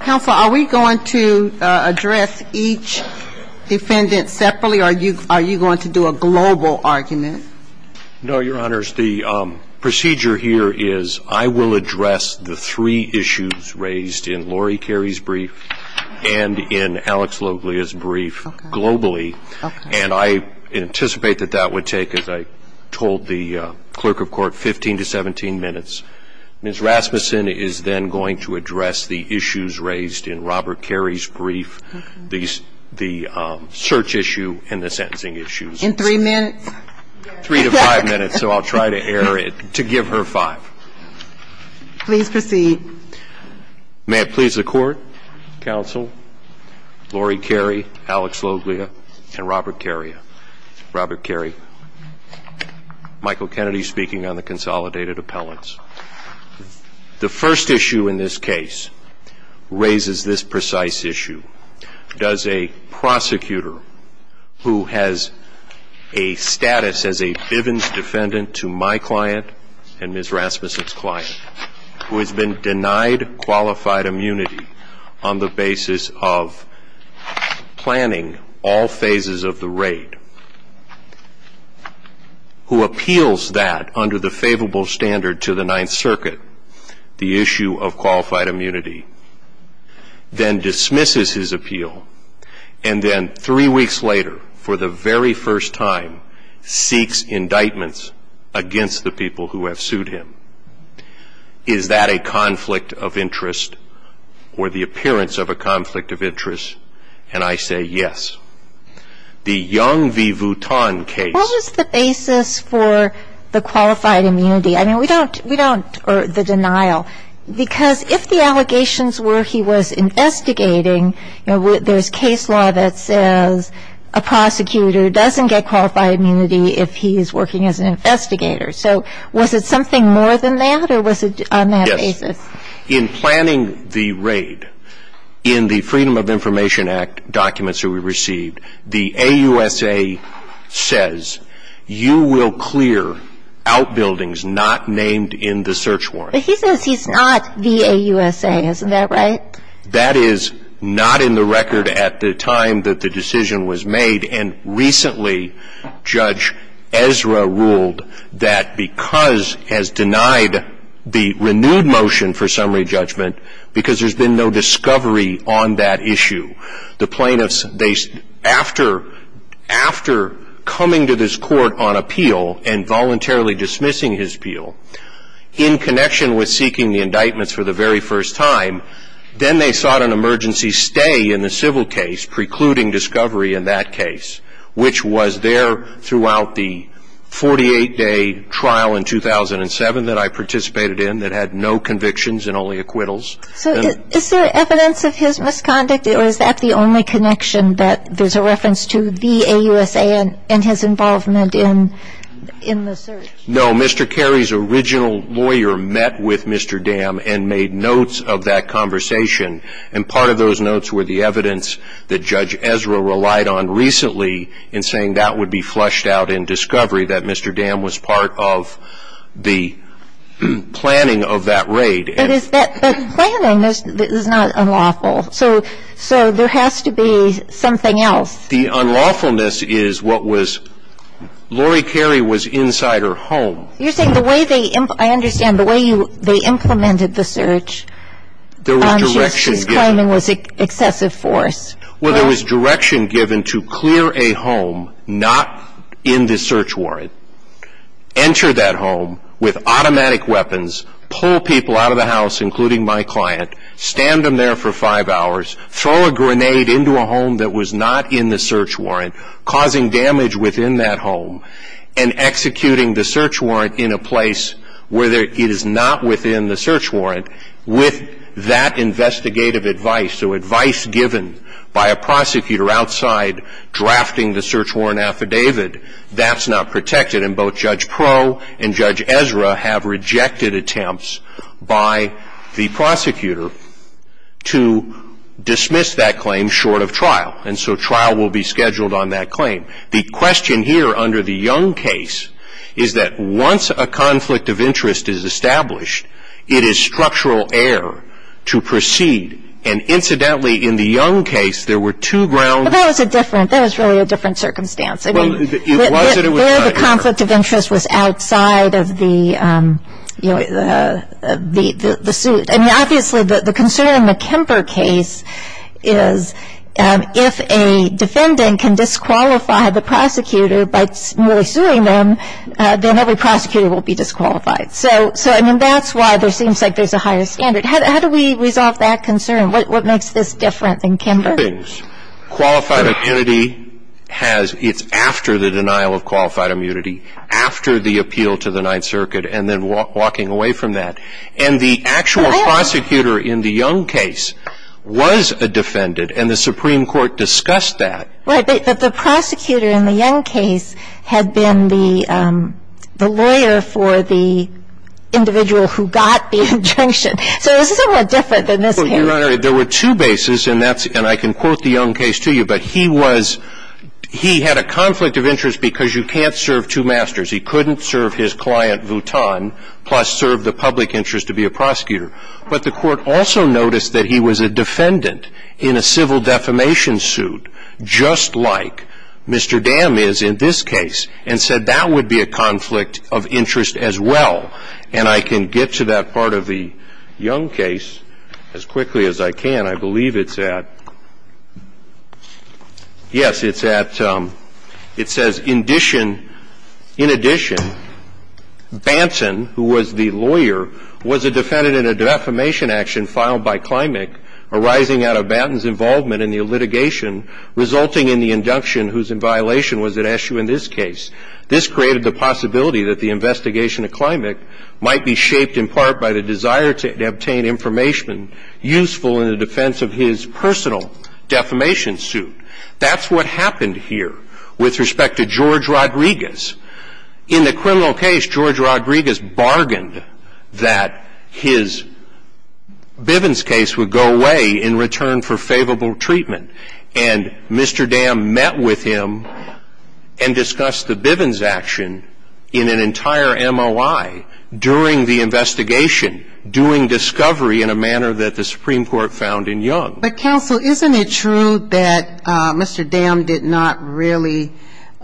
Counsel, are we going to address each defendant separately, or are you going to do a global argument? No, Your Honors, the procedure here is I will address the three issues raised in Lori Carey's brief and in Alex Loglia's brief globally, and I anticipate that that would take, as I told the Clerk of Court, 15 to 17 minutes. Ms. Rasmussen is then going to address the issues raised in Robert Carey's brief, the search issue and the sentencing issues. In three minutes? Three to five minutes, so I'll try to air it to give her five. Please proceed. May it please the Court, Counsel, Lori Carey, Alex Loglia, and Robert Carey. Robert Carey, Michael Kennedy speaking on the consolidated appellants. The first issue in this case raises this precise issue. Does a prosecutor who has a status as a Bivens defendant to my client and Ms. Rasmussen's client, who has been denied qualified immunity on the basis of planning all phases of the raid, who appeals that under the favorable standard to the Ninth Circuit, the issue of qualified immunity, then dismisses his appeal, and then three weeks later, for the very first time, seeks indictments against the people who have sued him? Is that a conflict of interest or the appearance of a conflict of interest? And I say yes. The Young v. Vuitton case What was the basis for the qualified immunity? I mean, we don't, we don't, or the denial, because if the allegations were he was investigating, you know, there's case law that says a prosecutor doesn't get qualified immunity if he's working as an investigator. So was it something more than that, or was it on that basis? Yes. In planning the raid, in the Freedom of Information Act documents that we received, the AUSA says you will clear outbuildings not named in the search warrant. But he says he's not the AUSA. Isn't that right? That is not in the record at the time that the decision was made, and recently, Judge Ezra ruled that because, has denied the renewed motion for summary judgment, because there's been no discovery on that issue. The plaintiffs, they, after, after coming to this court on appeal and voluntarily dismissing his appeal, in connection with seeking the indictments for the very first time, then they sought an emergency stay in the civil case precluding discovery in that case, which was there throughout the 48-day trial in 2007 that I participated in that had no convictions and only acquittals. So is there evidence of his misconduct, or is that the only connection that there's a reference to the AUSA and his involvement in, in the search? No. Mr. Carey's original lawyer met with Mr. Carey and had a conversation, and part of those notes were the evidence that Judge Ezra relied on recently in saying that would be flushed out in discovery, that Mr. Dam was part of the planning of that raid. But is that, that planning is, is not unlawful. So, so there has to be something else. The unlawfulness is what was, Lori Carey was inside her home. You're saying the way they, I understand, the way you, they implemented the search. There was direction given. She was claiming it was excessive force. Well, there was direction given to clear a home not in the search warrant, enter that home with automatic weapons, pull people out of the house, including my client, stand them there for five hours, throw a grenade into a home that was not in the search warrant, causing damage within that home, and executing the search warrant in a place where it is not within the search warrant with that investigative advice. So advice given by a prosecutor outside drafting the search warrant affidavit, that's not protected. And both Judge Proe and Judge Ezra have rejected attempts by the prosecutor to dismiss that claim short of trial. And so trial will be that once a conflict of interest is established, it is structural error to proceed. And incidentally, in the Young case, there were two grounds. But that was a different, that was really a different circumstance. I mean, there the conflict of interest was outside of the, you know, the suit. I mean, obviously, the concern in the Kemper case is if a defendant can disqualify the prosecutor by merely suing them, then every prosecutor will be disqualified. So I mean, that's why there seems like there's a higher standard. How do we resolve that concern? What makes this different than Kemper? Qualified immunity has, it's after the denial of qualified immunity, after the appeal to the Ninth Circuit, and then walking away from that. And the actual prosecutor in the Young case was a defendant, and the Supreme Court discussed that. But the prosecutor in the Young case had been the lawyer for the individual who got the injunction. So this is somewhat different than this case. Well, Your Honor, there were two bases, and that's, and I can quote the Young case to you. But he was, he had a conflict of interest because you can't serve two masters. He couldn't serve his client, Vu Thanh, plus serve the public interest to be a prosecutor. But the Court also noticed that he was a defendant in a civil defamation suit, just like Mr. Dam is in this case, and said that would be a conflict of interest as well. And I can get to that part of the Young case as quickly as I can. I believe it's at yes, it's at, it says, in addition, in addition, Banton, who was the lawyer, was a defendant in a defamation action filed by Klimek arising out of Banton's involvement in the litigation resulting in the induction, whose in violation was at issue in this case. This created the possibility that the investigation of Klimek might be shaped in part by the desire to obtain information useful in the defense of his personal defamation suit. That's what happened here with respect to George Rodriguez. In the criminal case, George Rodriguez, Bivens' case would go away in return for favorable treatment. And Mr. Dam met with him and discussed the Bivens' action in an entire MOI during the investigation, doing discovery in a manner that the Supreme Court found in Young. But counsel, isn't it true that Mr. Dam did not really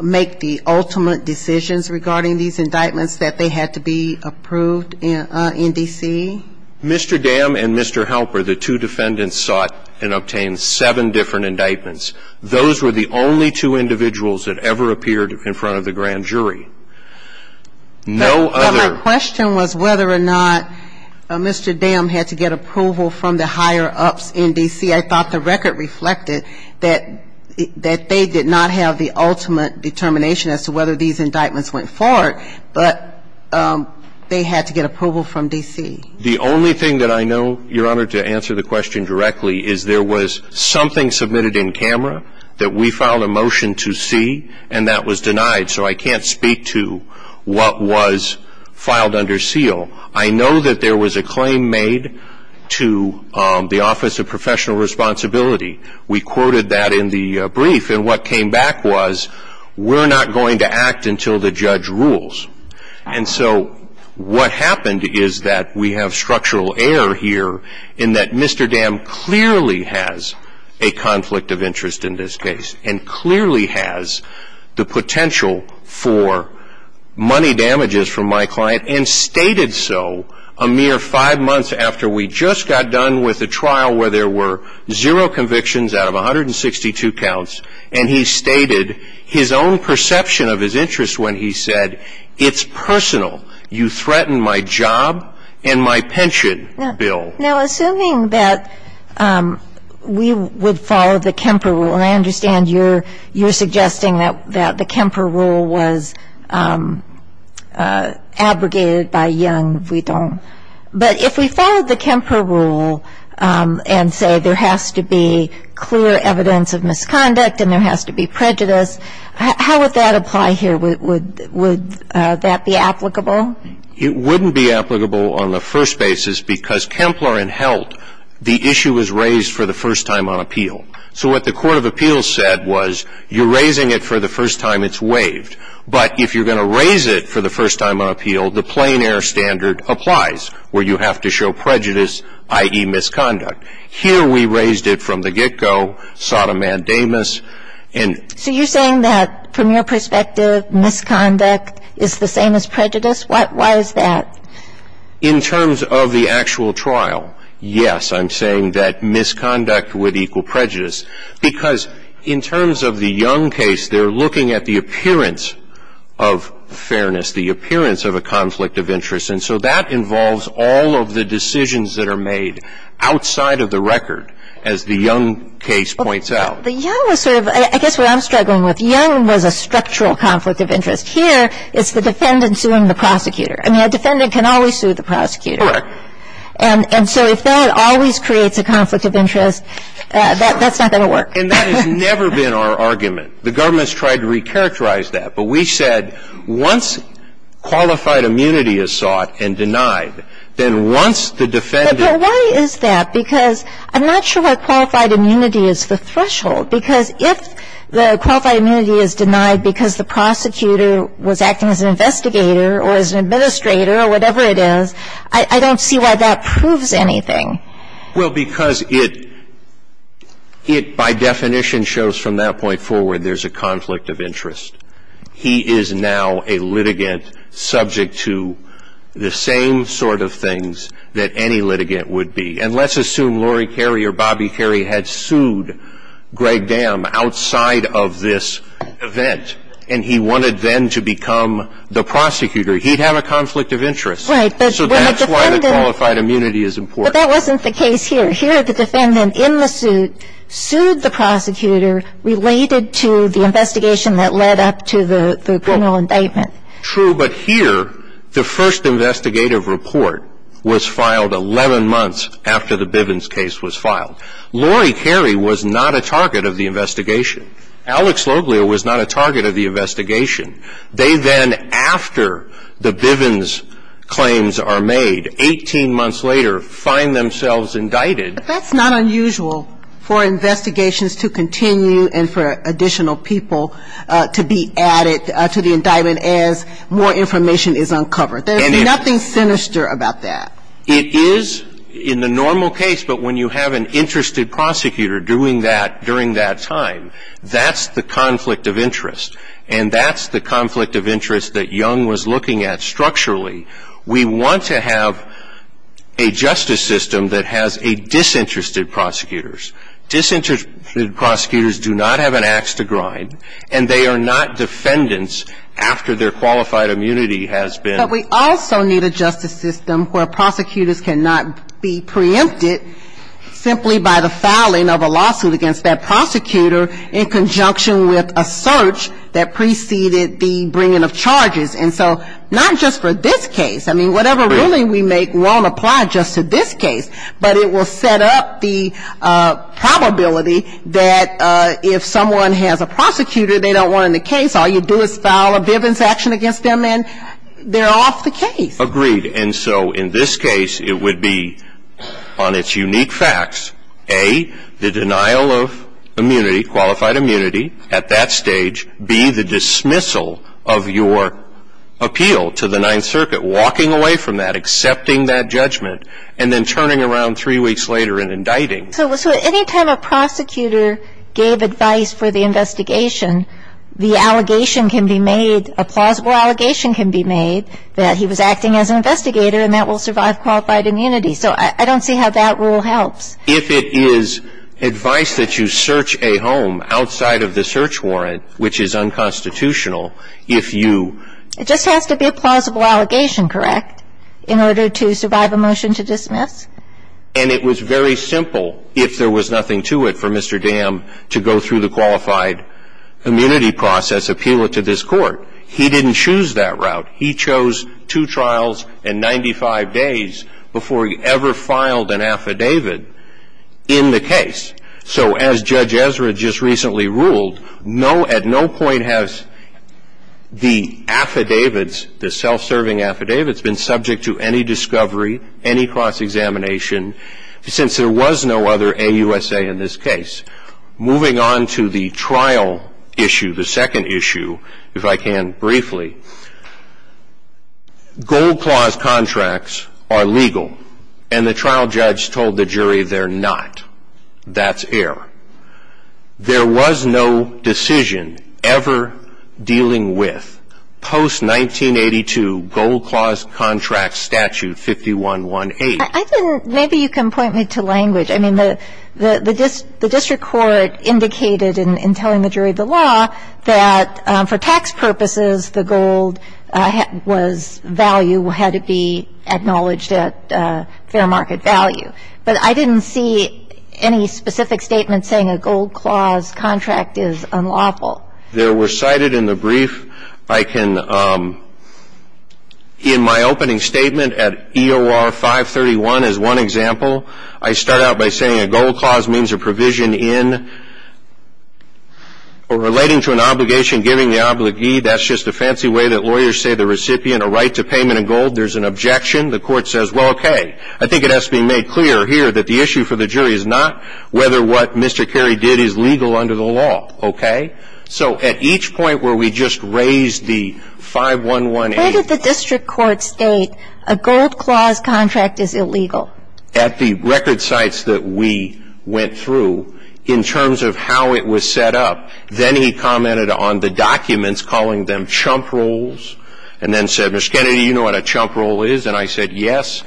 make the ultimate decisions regarding these indictments, that they had to be approved in D.C.? Mr. Dam and Mr. Halper, the two defendants, sought and obtained seven different indictments. Those were the only two individuals that ever appeared in front of the grand jury. No other. My question was whether or not Mr. Dam had to get approval from the higher-ups in D.C. I thought the record reflected that they did not have the ultimate determination as to whether these indictments went forward, but they had to get approval from D.C. The only thing that I know, Your Honor, to answer the question directly is there was something submitted in camera that we filed a motion to see, and that was denied. So I can't speak to what was filed under seal. I know that there was a claim made to the Office of Professional Responsibility. We quoted that in the brief. And what came back was, we're not going to act until the judge rules. And so what happened is that we have structural error here in that Mr. Dam clearly has a conflict of interest in this case, and clearly has the potential for money damages from my client, and stated so a mere five months after we just got done with a trial where there were zero convictions out of 162 counts. And he stated his own perception of his interest when he said, it's personal. You threaten my job and my pension, Bill. Now, assuming that we would follow the Kemper rule, and I understand you're suggesting that the Kemper rule was abrogated by Young, if we don't. But if we followed the Kemper rule and say there has to be clear evidence of misconduct, and there has to be prejudice, how would that apply here? Would that be applicable? It wouldn't be applicable on the first basis, because Kempler and Held, the issue was raised for the first time on appeal. So what the Court of Appeals said was, you're raising it for the first time, it's waived. But if you're going to raise it for the first time on appeal, the plain air standard applies, where you have to show prejudice, i.e. misconduct. Here we raised it from the get-go, Sodom and Damas, and... So you're saying that, from your perspective, misconduct is the same as prejudice? Why is that? In terms of the actual trial, yes, I'm saying that misconduct would equal prejudice. Because in terms of the Young case, they're looking at the appearance of fairness, the appearance of a conflict of interest. And so that involves all of the decisions that are made outside of the record, as the Young case points out. But Young was sort of — I guess what I'm struggling with, Young was a structural conflict of interest. Here, it's the defendant suing the prosecutor. I mean, a defendant can always sue the prosecutor. Correct. And so if that always creates a conflict of interest, that's not going to work. And that has never been our argument. The government's tried to recharacterize that. But we said, once qualified immunity is sought and denied, then once the defendant But why is that? Because I'm not sure why qualified immunity is the threshold. Because if the qualified immunity is denied because the prosecutor was acting as an investigator or as an administrator or whatever it is, I don't see why that proves anything. Well, because it — it, by definition, shows from that point forward there's a conflict of interest. He is now a litigant subject to the same sort of things that any litigant would be. And let's assume Lori Carey or Bobby Carey had sued Greg Dam outside of this event, and he wanted then to become the prosecutor. He'd have a conflict of interest. Right. But when the defendant — So that's why the qualified immunity is important. But that wasn't the case here. Here, the defendant, in the suit, sued the prosecutor related to the investigation that led up to the criminal indictment. True. But here, the first investigative report was filed 11 months after the Bivens case was filed. Lori Carey was not a target of the investigation. Alex Loglia was not a target of the investigation. They then, after the Bivens claims are made, 18 months later, finally find themselves indicted. But that's not unusual for investigations to continue and for additional people to be added to the indictment as more information is uncovered. There's nothing sinister about that. It is in the normal case. But when you have an interested prosecutor doing that during that time, that's the conflict of interest. And that's the conflict of interest that we want to have a justice system that has a disinterested prosecutors. Disinterested prosecutors do not have an ax to grind. And they are not defendants after their qualified immunity has been — But we also need a justice system where prosecutors cannot be preempted simply by the filing of a lawsuit against that prosecutor in conjunction with a search that preceded the bringing of charges. And so not just for this case. I mean, whatever ruling we make won't apply just to this case. But it will set up the probability that if someone has a prosecutor they don't want in the case, all you do is file a Bivens action against them and they're off the case. Agreed. And so in this case, it would be on its unique facts, A, the denial of immunity, qualified immunity, at that stage, B, the dismissal of your appeal to the Ninth Circuit, walking away from that, accepting that judgment, and then turning around three weeks later and indicting. So any time a prosecutor gave advice for the investigation, the allegation can be made, a plausible allegation can be made, that he was acting as an investigator and that will survive qualified immunity. So I don't see how that rule helps. If it is advice that you search a home outside of the search warrant, which is unconstitutional, if you It just has to be a plausible allegation, correct, in order to survive a motion to dismiss? And it was very simple, if there was nothing to it, for Mr. Dam to go through the qualified immunity process, appeal it to this Court. He didn't choose that route. He chose two in the case. So as Judge Ezra just recently ruled, no, at no point has the affidavits, the self-serving affidavits, been subject to any discovery, any cross-examination, since there was no other AUSA in this case. Moving on to the trial issue, the second issue, if I can briefly. Gold Clause contracts are not. That's error. There was no decision ever dealing with post-1982 Gold Clause contract statute 5118. I think maybe you can point me to language. I mean, the district court indicated in telling the jury of the law that for tax purposes, the gold was value, had to be acknowledged at fair market value. But I didn't see any specific statement saying a Gold Clause contract is unlawful. There were cited in the brief. I can, in my opening statement at EOR 531 as one example, I start out by saying a Gold Clause means a provision in or relating to an obligation, giving the obligee. That's just a fancy way that lawyers say the recipient a right to say, well, okay, I think it has to be made clear here that the issue for the jury is not whether what Mr. Carey did is legal under the law, okay? So at each point where we just raised the 5118. Where did the district court state a Gold Clause contract is illegal? At the record sites that we went through in terms of how it was set up. Then he commented on the documents, calling them chump rules, and then said, Mr. Kennedy, you know what chump rule is? And I said, yes.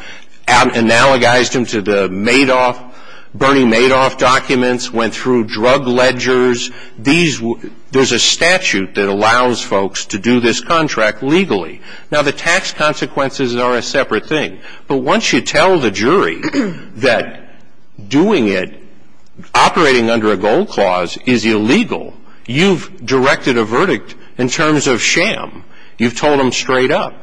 Analogized them to the Madoff, Bernie Madoff documents, went through drug ledgers. There's a statute that allows folks to do this contract legally. Now the tax consequences are a separate thing. But once you tell the jury that doing it, operating under a Gold Clause is illegal, you've directed a verdict in terms of sham. You've told them straight up.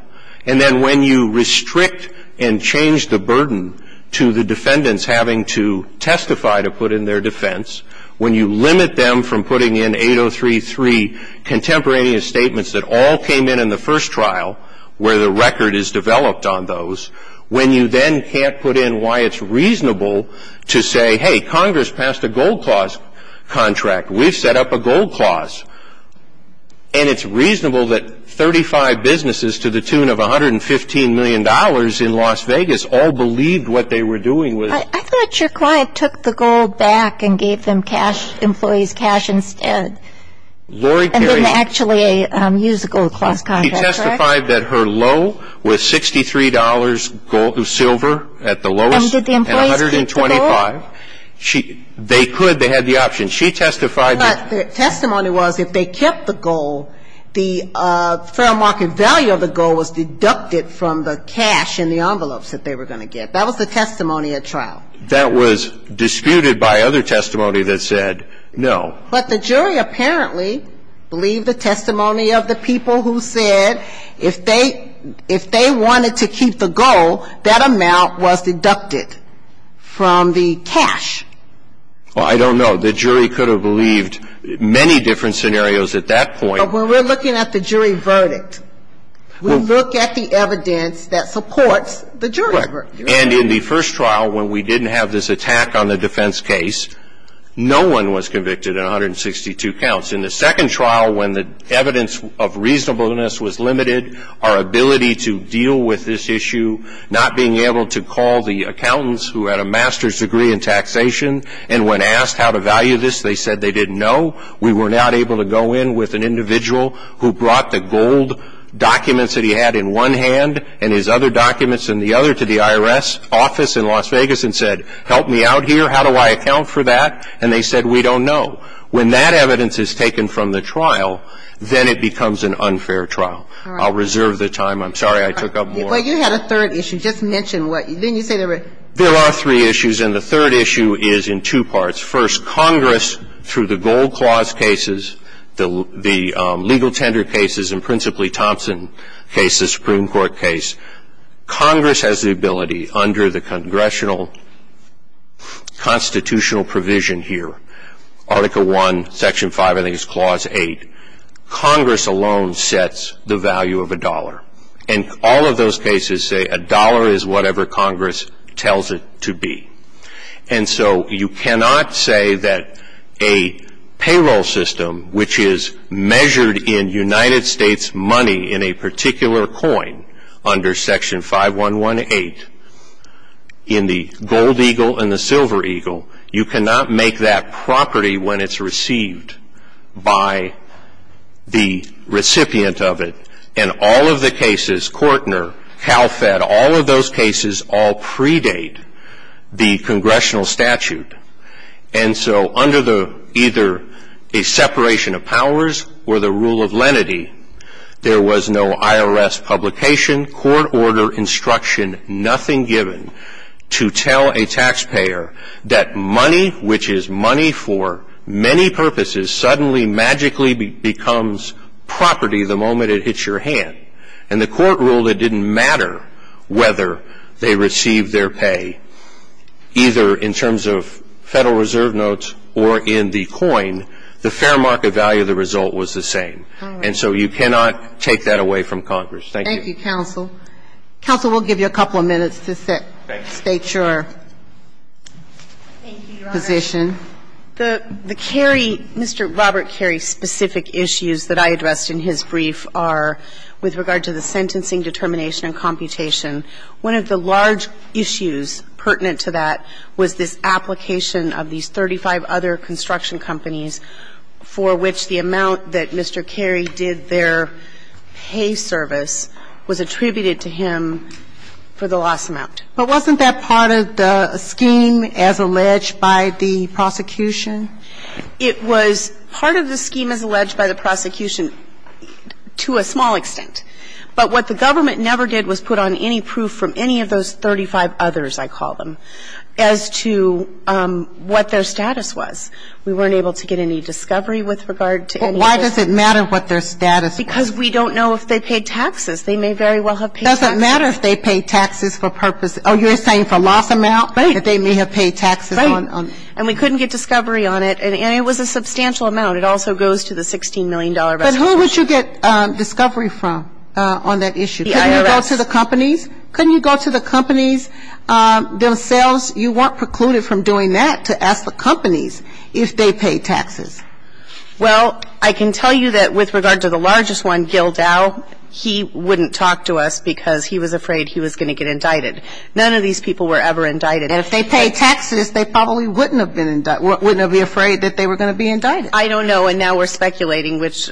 And then when you restrict and change the burden to the defendants having to testify to put in their defense, when you limit them from putting in 8033 contemporaneous statements that all came in in the first trial where the record is developed on those, when you then can't put in why it's reasonable to say, hey, Congress passed a Gold Clause contract. We've set up a Gold Clause. And it's reasonable that 35 businesses to the tune of $115 million in Las Vegas all believed what they were doing was... I thought your client took the gold back and gave them cash, employee's cash instead. And then actually used the Gold Clause contract, correct? She testified that her low was $63 silver at the lowest. And did the employees keep the gold? $625. They could. They had the option. She testified that... But the testimony was if they kept the gold, the fair market value of the gold was deducted from the cash in the envelopes that they were going to get. That was the testimony at trial. That was disputed by other testimony that said no. But the jury apparently believed the testimony of the people who said if they wanted to keep the gold, that amount was deducted from the cash. Well, I don't know. The jury could have believed many different scenarios at that point. But when we're looking at the jury verdict, we look at the evidence that supports the jury verdict. Correct. And in the first trial when we didn't have this attack on the defense case, no one was convicted in 162 counts. In the second trial when the evidence of reasonableness was limited, our ability to deal with this issue, not being able to call the accountants who had a master's degree in taxation, and when asked how to value this, they said they didn't know. We were not able to go in with an individual who brought the gold documents that he had in one hand and his other documents in the other to the IRS office in Las Vegas and said, help me out here. How do I account for that? And they said, we don't know. When that evidence is taken from the trial, then it becomes an unfair trial. I'll reserve the time. I'm sorry I took up more. But you had a third issue. Just mention what you said. There are three issues, and the third issue is in two parts. First, Congress, through the Gold Clause cases, the legal tender cases, and principally Thompson cases, Supreme Court case, Congress has the ability under the congressional constitutional provision here, Article 1, Section 5, I think it's Clause 8, Congress alone sets the value of a dollar. And all of those cases say a dollar is whatever Congress tells it to be. And so you cannot say that a payroll system, which is measured in United States money in a particular coin under Section 5118, in the gold eagle and the silver eagle, you cannot make that property when it's received by the recipient of it. And all of the cases, Kortner, CalFed, all of those cases all predate the congressional statute. And so under either a separation of powers or the rule of lenity, there was no IRS publication, court order, construction, nothing given to tell a taxpayer that money, which is money for many purposes, suddenly magically becomes property the moment it hits your hand. And the court ruled it didn't matter whether they received their pay, either in terms of Federal Reserve notes or in the coin, the fair market value of the result was the same. And so you cannot take that away from Congress. Thank you. Thank you, counsel. Counsel, we'll give you a couple of minutes to state your position. The Kerry, Mr. Robert Kerry's specific issues that I addressed in his brief are with regard to the sentencing determination and computation. One of the large issues pertinent to that was this application of these 35 other construction companies for which the amount that Mr. Kerry did their pay service was attributed to him for the loss amount. But wasn't that part of the scheme as alleged by the prosecution? It was part of the scheme as alleged by the prosecution to a small extent. But what the government never did was put on any proof from any of those 35 others, I call them, as to what their status was. We weren't able to get any discovery with regard to any of those. But why does it matter what their status was? Because we don't know if they paid taxes. They may very well have paid taxes. It doesn't matter if they paid taxes for purpose. Oh, you're saying for loss amount? Right. That they may have paid taxes on it. Right. And we couldn't get discovery on it. And it was a substantial amount. It also goes to the $16 million restoration. But who would you get discovery from on that issue? The IRS. Couldn't you go to the companies? Couldn't you go to the companies themselves? You weren't precluded from doing that to ask the companies if they paid taxes. Well, I can tell you that with regard to the largest one, Gil Dow, he wouldn't talk to us because he was afraid he was going to get indicted. None of these people were ever indicted. And if they paid taxes, they probably wouldn't have been indicted, wouldn't have been afraid that they were going to be indicted. I don't know. And now we're speculating, which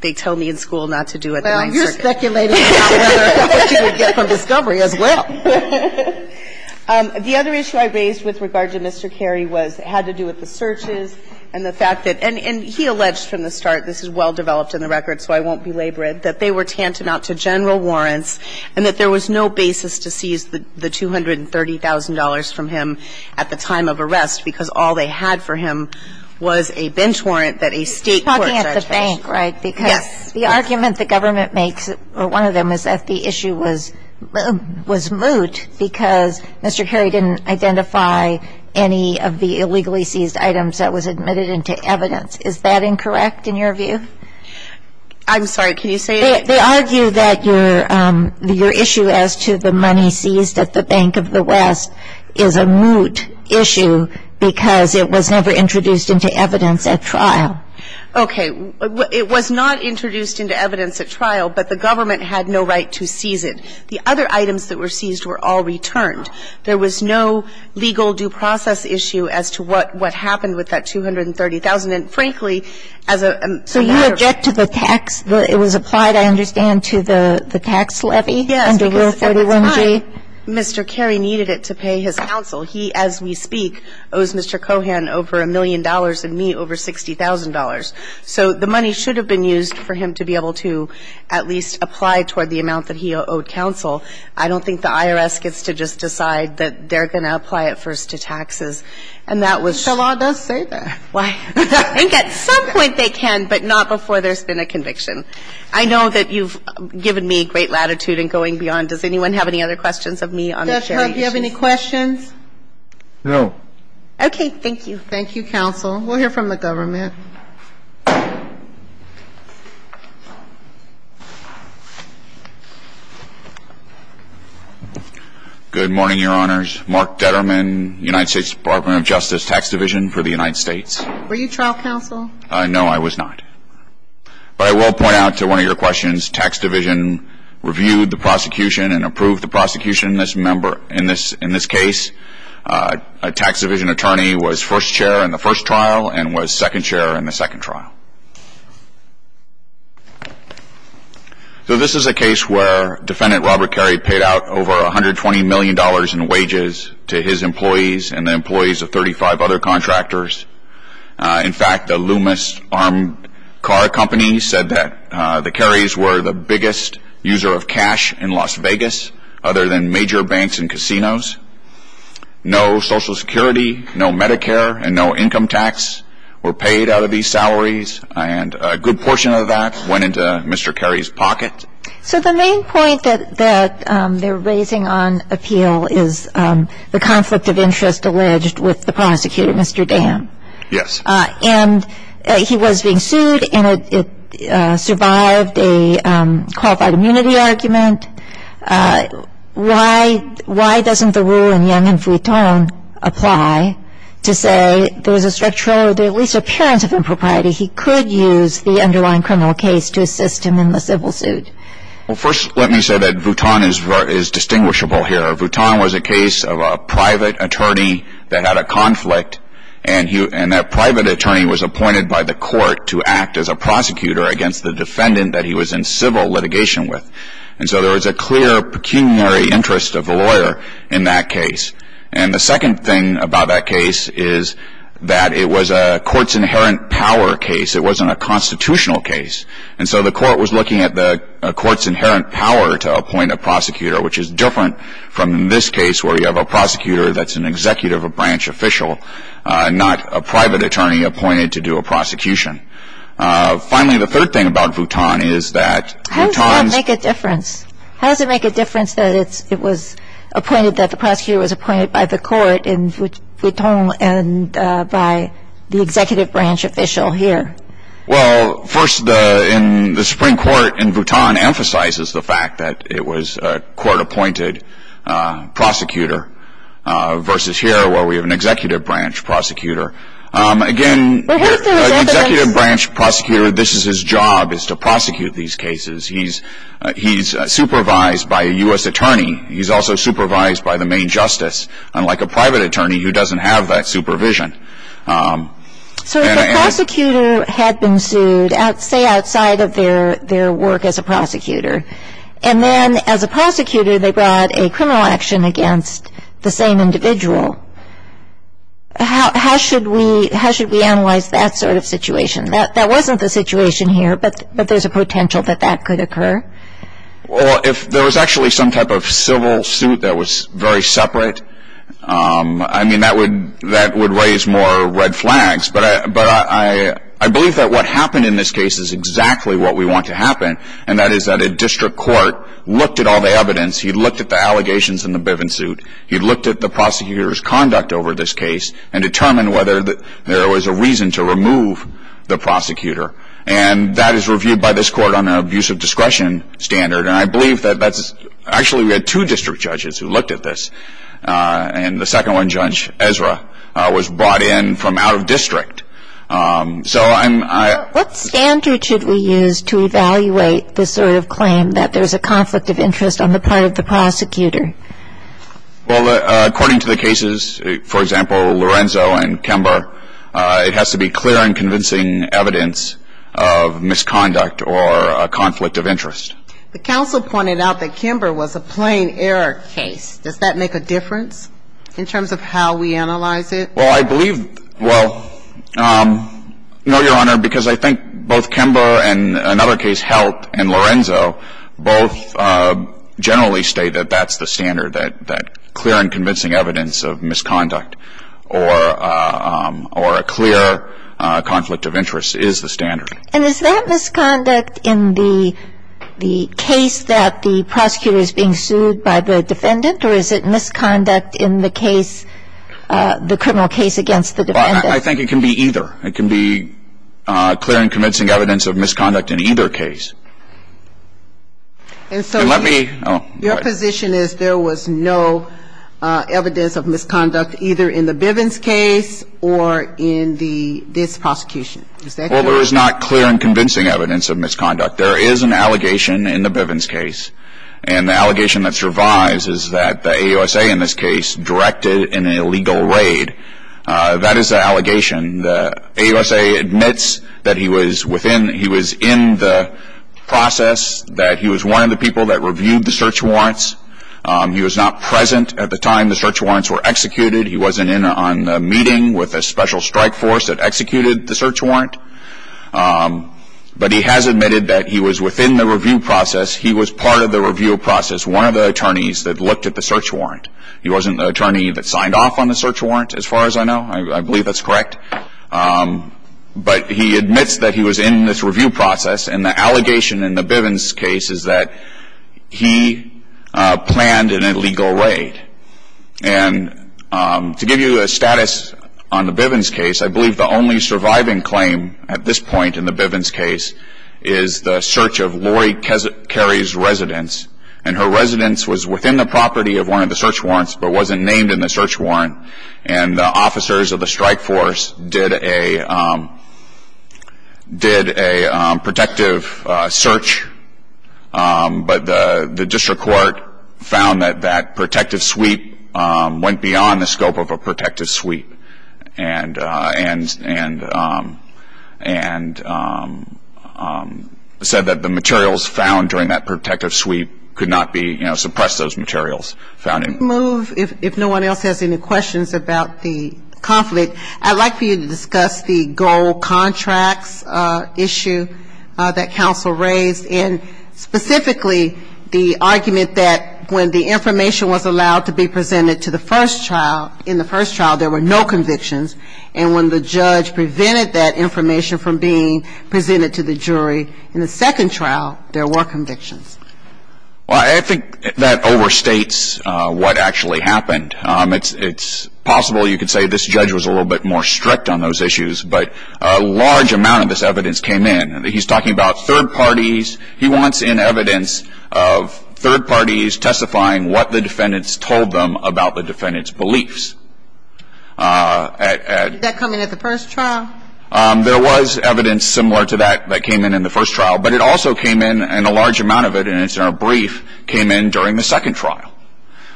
they tell me in school not to do at the Ninth Circuit. Well, you're speculating about what you would get from discovery as well. The other issue I raised with regard to Mr. Carey was it had to do with the searches and the fact that, and he alleged from the start, this is well-developed in the record so I won't belabor it, that they were tantamount to general warrants and that there was no basis to seize the $230,000 from him at the time of arrest because all they had for him was a bench warrant that a state court charged him with. He's talking at the bank, right? Yes. Because the argument the government makes, or one of them, is that the issue was moot because Mr. Carey didn't identify any of the illegally seized items that were admitted into evidence. Is that incorrect in your view? I'm sorry. Can you say it again? They argue that your issue as to the money seized at the Bank of the West is a moot issue because it was never introduced into evidence at trial. Okay. It was not introduced into evidence at trial, but the government had no right to seize it. The other items that were seized were all returned. There was no legal due process issue as to what happened with that $230,000. And, frankly, as a matter of fact, So you object to the tax? It was applied, I understand, to the tax levy? Yes. Under Rule 31G? Mr. Carey needed it to pay his counsel. He, as we speak, owes Mr. Cohan over a million dollars and me over $60,000. So the money should have been used for him to be able to at least apply toward the amount that he owed counsel. I don't think the IRS gets to just decide that they're going to apply it first to taxes. And that was But the law does say that. Why? I think at some point they can, but not before there's been a conviction. I know that you've given me great latitude in going beyond. Does anyone have any other questions of me on the share issue? Judge, do you have any questions? No. Okay. Thank you. Thank you, counsel. We'll hear from the government. Good morning, Your Honors. Mark Detterman, United States Department of Justice, Tax Division for the United States. Were you trial counsel? No, I was not. But I will point out to one of your questions, Tax Division reviewed the prosecution and approved the prosecution in this case. A Tax Division attorney was first chair in the first trial and was second chair in the second trial. So this is a case where Defendant Robert Carey paid out over $120 million in wages to his employees and the employees of 35 other contractors. In fact, the Loomis Armed Car Company said that the Careys were the biggest user of cash in Las Vegas other than major banks and casinos. No Social Security, no Medicare, and no income tax were paid out of these salaries. And a good portion of that went into Mr. Carey's pocket. So the main point that they're raising on appeal is the conflict of interest alleged with the prosecutor, Mr. Dam. Yes. And he was being sued and it survived a qualified immunity argument. Why doesn't the rule in Young v. Vuitton apply to say there's a structural or at least appearance of impropriety? He could use the underlying criminal case to assist him in the civil suit. Well, first let me say that Vuitton is distinguishable here. Vuitton was a case of a private attorney that had a conflict and that private attorney was appointed by the court to act as a prosecutor against the defendant that he was in civil litigation with. And so there was a clear pecuniary interest of the lawyer in that case. And the second thing about that case is that it was a court's inherent power case. It wasn't a constitutional case. And so the court was looking at the court's inherent power to appoint a prosecutor, which is different from in this case where you have a prosecutor that's an executive, a branch official, not a private attorney appointed to do a prosecution. Finally, the third thing about Vuitton is that Vuitton's... How does that make a difference? How does it make a difference that it was appointed, that the prosecutor was appointed by the court in Vuitton and by the executive branch official here? Well, first in the Supreme Court in Vuitton emphasizes the fact that it was a court-appointed prosecutor versus here where we have an executive branch prosecutor. Again, the executive branch prosecutor, this is his job, is to prosecute these cases. He's supervised by a U.S. attorney. He's also supervised by the main justice, unlike a private attorney who doesn't have that supervision. So if a prosecutor had been sued, say outside of their work as a prosecutor, and then as a prosecutor they brought a criminal action against the same individual, how should we analyze that sort of situation? That wasn't the situation here, but there's a potential that that could occur. Well, if there was actually some type of civil suit that was very separate, I mean, that would raise more red flags. But I believe that what happened in this case is exactly what we want to happen, and that is that a district court looked at all the evidence. He looked at the allegations in the Bivens suit. He looked at the prosecutor's conduct over this case and determined whether there was a reason to remove the prosecutor. And that is reviewed by this court on an abuse of discretion standard. And I believe that that's actually we had two district judges who looked at this. And the second one, Judge Ezra, was brought in from out of district. So I'm What standard should we use to evaluate this sort of claim that there's a Well, according to the cases, for example, Lorenzo and Kember, it has to be clear and convincing evidence of misconduct or a conflict of interest. The counsel pointed out that Kember was a plain error case. Does that make a difference in terms of how we analyze it? Well, I believe, well, no, Your Honor, because I think both Kember and another Lorenzo both generally state that that's the standard, that clear and convincing evidence of misconduct or a clear conflict of interest is the standard. And is that misconduct in the case that the prosecutor is being sued by the defendant or is it misconduct in the case, the criminal case against the defendant? I think it can be either. It can be clear and convincing evidence of misconduct in either case. And so your position is there was no evidence of misconduct either in the Bivens case or in this prosecution. Is that correct? Well, there is not clear and convincing evidence of misconduct. There is an allegation in the Bivens case. And the allegation that survives is that the AUSA in this case directed an illegal raid, that is an allegation. The AUSA admits that he was within, he was in the process, that he was one of the people that reviewed the search warrants. He was not present at the time the search warrants were executed. He wasn't in on the meeting with a special strike force that executed the search warrant. But he has admitted that he was within the review process. He was part of the review process, one of the attorneys that looked at the search warrant. He wasn't the attorney that signed off on the search warrant, as far as I know. I believe that's correct. But he admits that he was in this review process. And the allegation in the Bivens case is that he planned an illegal raid. And to give you a status on the Bivens case, I believe the only surviving claim at this point in the Bivens case is the search of Lori Carey's residence. And her residence was within the property of one of the search warrants, but wasn't named in the search warrant. And the officers of the strike force did a protective search, but the district court found that that protective sweep went beyond the scope of a protective sweep. And said that the materials found during that protective sweep could not be, you know, suppress those materials found in it. If no one else has any questions about the conflict, I'd like for you to discuss the gold contracts issue that counsel raised, and specifically the argument that when the information was allowed to be presented to the first trial, in the first trial there were no convictions. And when the judge prevented that information from being presented to the jury in the second trial, there were convictions. Well, I think that overstates what actually happened. It's possible you could say this judge was a little bit more strict on those issues, but a large amount of this evidence came in. He's talking about third parties. He wants in evidence of third parties testifying what the defendants told them about the defendants' beliefs. Did that come in at the first trial? There was evidence similar to that that came in in the first trial, but it also came in, and a large amount of it, and it's in our brief, came in during the second trial.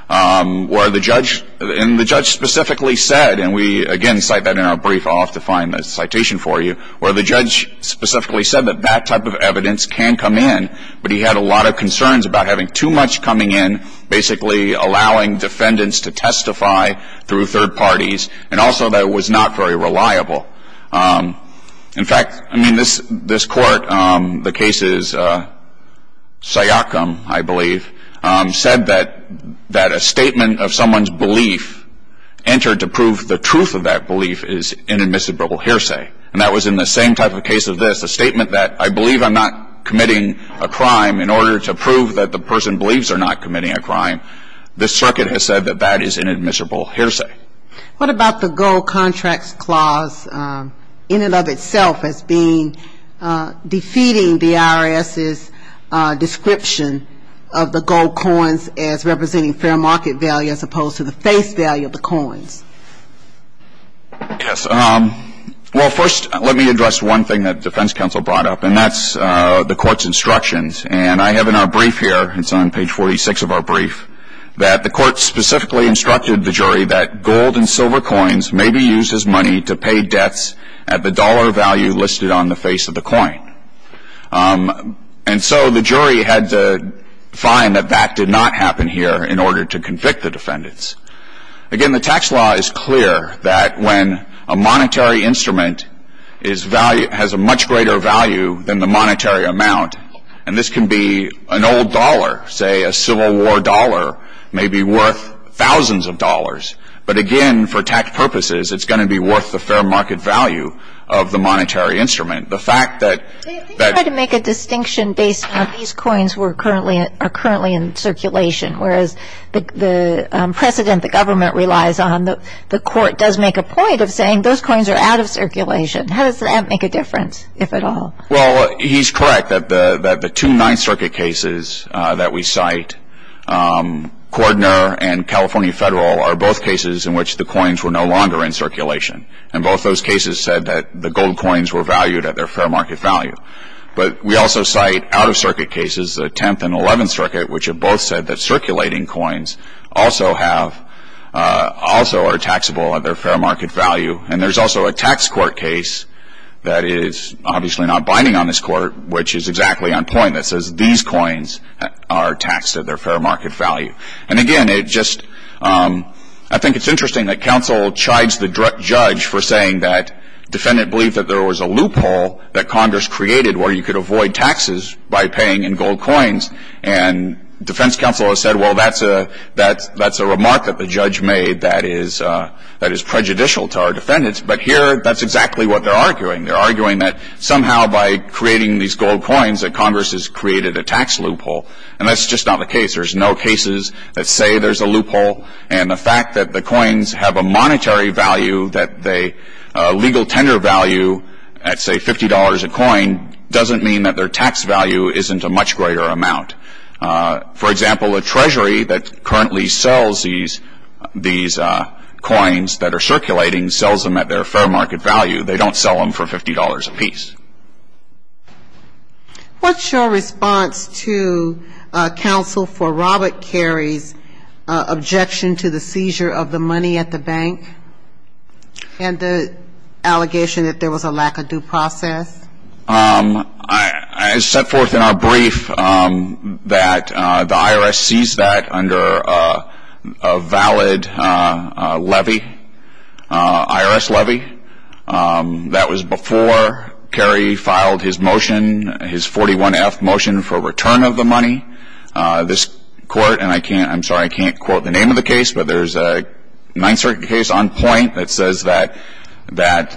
Where the judge, and the judge specifically said, and we again cite that in our brief, I'll have to find the citation for you, where the judge specifically said that that type of evidence can come in, but he had a lot of concerns about having too much coming in, basically allowing defendants to testify through third parties, and also that it was not very reliable. In fact, I mean, this court, the case is Syocum, I believe, said that a statement of someone's belief entered to prove the truth of that belief is inadmissible hearsay. And that was in the same type of case as this, a statement that I believe I'm not committing a crime in order to prove that the person believes they're not committing a crime. This circuit has said that that is inadmissible hearsay. What about the gold contracts clause in and of itself as being, defeating the IRS's description of the gold coins as representing fair market value as opposed to the face value of the coins? Yes. Well, first, let me address one thing that defense counsel brought up, and that's the court's instructions. And I have in our brief here, it's on page 46 of our brief, that the court specifically instructed the jury that gold and silver coins may be used as money to pay debts at the dollar value listed on the face of the coin. And so the jury had to find that that did not happen here in order to convict the defendants. Again, the tax law is clear that when a monetary instrument has a much greater value than the monetary amount, and this can be an old dollar, say a Civil War dollar, may be worth thousands of dollars. But, again, for tax purposes, it's going to be worth the fair market value of the monetary instrument. The fact that- Can you try to make a distinction based on these coins that are currently in circulation, whereas the precedent the government relies on, the court does make a point of saying those coins are out of circulation. How does that make a difference, if at all? Well, he's correct that the two Ninth Circuit cases that we cite, Cordner and California Federal, are both cases in which the coins were no longer in circulation. And both those cases said that the gold coins were valued at their fair market value. But we also cite out-of-circuit cases, the Tenth and Eleventh Circuit, which have both said that circulating coins also are taxable at their fair market value. And there's also a tax court case that is obviously not binding on this court, which is exactly on point that says these coins are taxed at their fair market value. And, again, I think it's interesting that counsel chides the judge for saying that there was a loophole that Congress created where you could avoid taxes by paying in gold coins. And defense counsel has said, well, that's a remark that the judge made that is prejudicial to our defendants. But here that's exactly what they're arguing. They're arguing that somehow by creating these gold coins that Congress has created a tax loophole. And that's just not the case. There's no cases that say there's a loophole. And the fact that the coins have a monetary value that they legal tender value at, say, $50 a coin, doesn't mean that their tax value isn't a much greater amount. For example, a treasury that currently sells these coins that are circulating sells them at their fair market value. They don't sell them for $50 apiece. What's your response to counsel for Robert Carey's objection to the seizure of the money at the bank? And the allegation that there was a lack of due process? I set forth in our brief that the IRS seized that under a valid levy, IRS levy. That was before Carey filed his motion, his 41-F motion for return of the money. This court, and I can't, I'm sorry, I can't quote the name of the case, but there's a Ninth Circuit case on point that says that the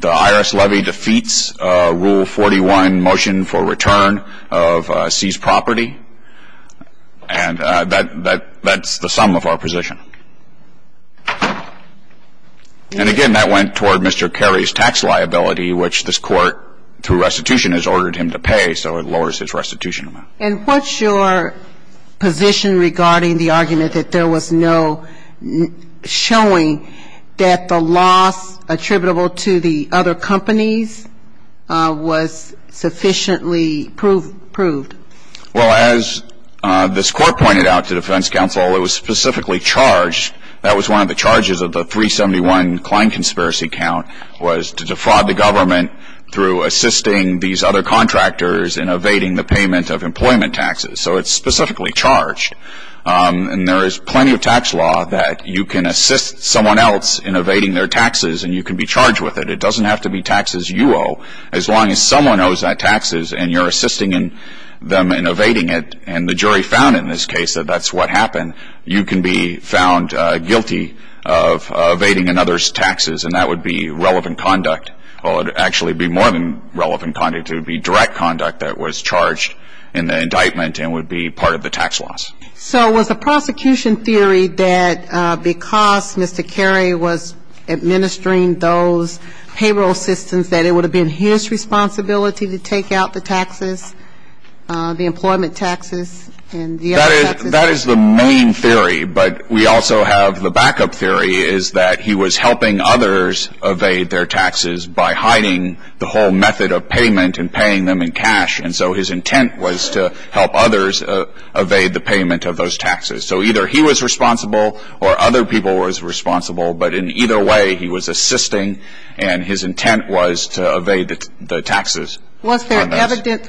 IRS levy defeats Rule 41 motion for return of seized property. And that's the sum of our position. And again, that went toward Mr. Carey's tax liability, which this court through restitution has ordered him to pay, so it lowers his restitution amount. And what's your position regarding the argument that there was no showing that the loss attributable to the other companies was sufficiently proved? Well, as this court pointed out to defense counsel, it was specifically charged, that was one of the charges of the 371 Klein Conspiracy Count, was to defraud the government through assisting these other contractors in evading the payment of employment taxes. So it's specifically charged. And there is plenty of tax law that you can assist someone else in evading their taxes and you can be charged with it. It doesn't have to be taxes you owe. As long as someone owes that taxes and you're assisting them in evading it, and the jury found in this case that that's what happened, you can be found guilty of evading another's taxes, and that would be relevant conduct. Well, it would actually be more than relevant conduct. It would be direct conduct that was charged in the indictment and would be part of the tax loss. So was the prosecution theory that because Mr. Cary was administering those payroll systems, that it would have been his responsibility to take out the taxes, the employment taxes and the other taxes? That is the main theory, but we also have the backup theory, is that he was helping others evade their taxes by hiding the whole method of payment and paying them in cash. And so his intent was to help others evade the payment of those taxes. So either he was responsible or other people were responsible, but in either way he was assisting and his intent was to evade the taxes. Was there evidence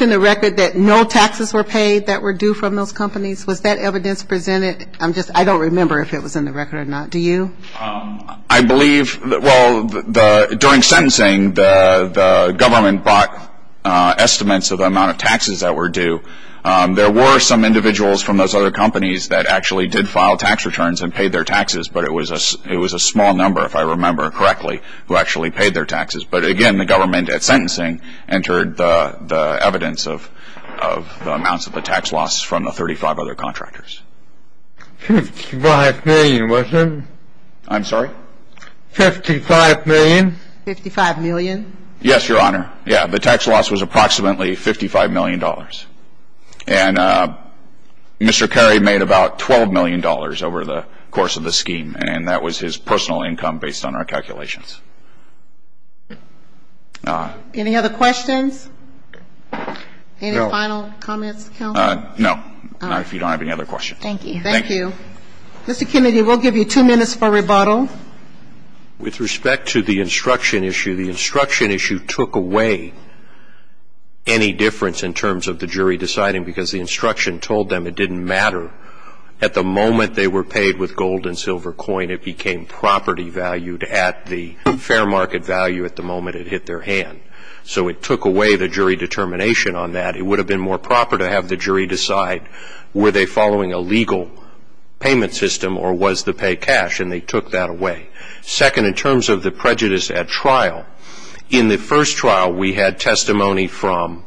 in the record that no taxes were paid that were due from those companies? Was that evidence presented? I don't remember if it was in the record or not. Do you? I believe, well, during sentencing the government bought estimates of the amount of taxes that were due. There were some individuals from those other companies that actually did file tax returns and paid their taxes, but it was a small number, if I remember correctly, who actually paid their taxes. But again, the government at sentencing entered the evidence of the amounts of the tax loss from the 35 other contractors. Fifty-five million, wasn't it? I'm sorry? Fifty-five million? Fifty-five million? Yes, Your Honor. Yeah, the tax loss was approximately $55 million. And Mr. Carey made about $12 million over the course of the scheme, and that was his personal income based on our calculations. Any other questions? Any final comments, counsel? No. Not if you don't have any other questions. Thank you. Thank you. Mr. Kennedy, we'll give you two minutes for rebuttal. With respect to the instruction issue, the instruction issue took away any difference in terms of the jury deciding because the instruction told them it didn't matter. At the moment they were paid with gold and silver coin, it became property valued at the fair market value at the moment it hit their hand. So it took away the jury determination on that. It would have been more proper to have the jury decide were they following a legal payment system or was the pay cash, and they took that away. Second, in terms of the prejudice at trial, in the first trial we had testimony from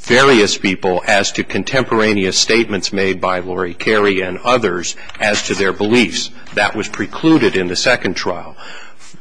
various people as to contemporaneous statements made by Lori Carey and others as to their beliefs. That was precluded in the second trial.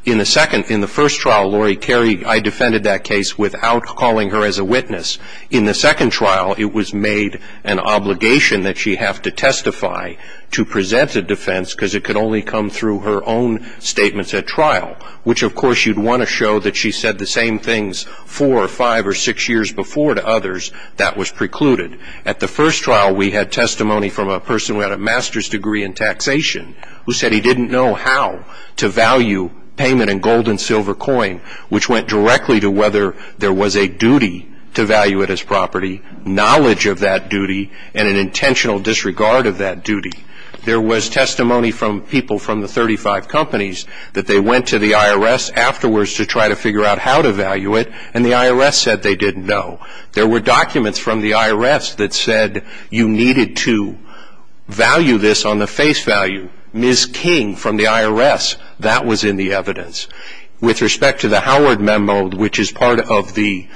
In the first trial, Lori Carey, I defended that case without calling her as a witness. In the second trial, it was made an obligation that she have to testify to present a defense because it could only come through her own statements at trial, which of course you'd want to show that she said the same things four or five or six years before to others. That was precluded. At the first trial, we had testimony from a person who had a master's degree in taxation who said he didn't know how to value payment in gold and silver coin, which went directly to whether there was a duty to value it as property, knowledge of that duty, and an intentional disregard of that duty. There was testimony from people from the 35 companies that they went to the IRS afterwards to try to figure out how to value it, and the IRS said they didn't know. There were documents from the IRS that said you needed to value this on the face value. Ms. King from the IRS, that was in the evidence. With respect to the Howard memo, which is part of the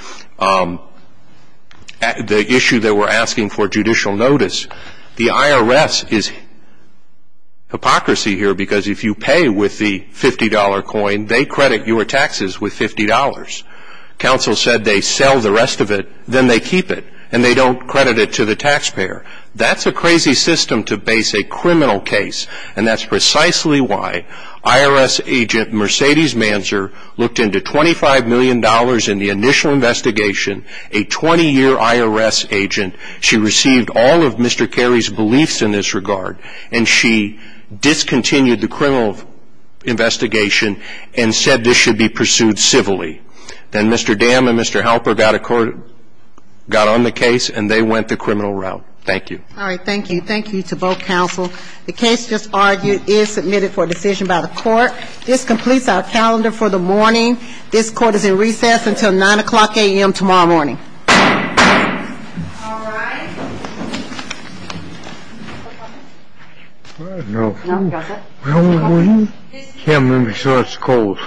issue that we're asking for judicial notice, the IRS is hypocrisy here because if you pay with the $50 coin, they credit your taxes with $50. Counsel said they sell the rest of it, then they keep it, and they don't credit it to the taxpayer. That's a crazy system to base a criminal case, and that's precisely why IRS agent Mercedes Manser looked into $25 million in the initial investigation, a 20-year IRS agent. She received all of Mr. Carey's beliefs in this regard, and she discontinued the criminal investigation and said this should be pursued civilly. Then Mr. Dam and Mr. Halper got on the case, and they went the criminal route. Thank you. All right, thank you. Thank you to both counsel. The case just argued is submitted for decision by the court. This completes our calendar for the morning. This court is in recess until 9 o'clock a.m. tomorrow morning. All right. No. No. Can't move until it's cold. Okay.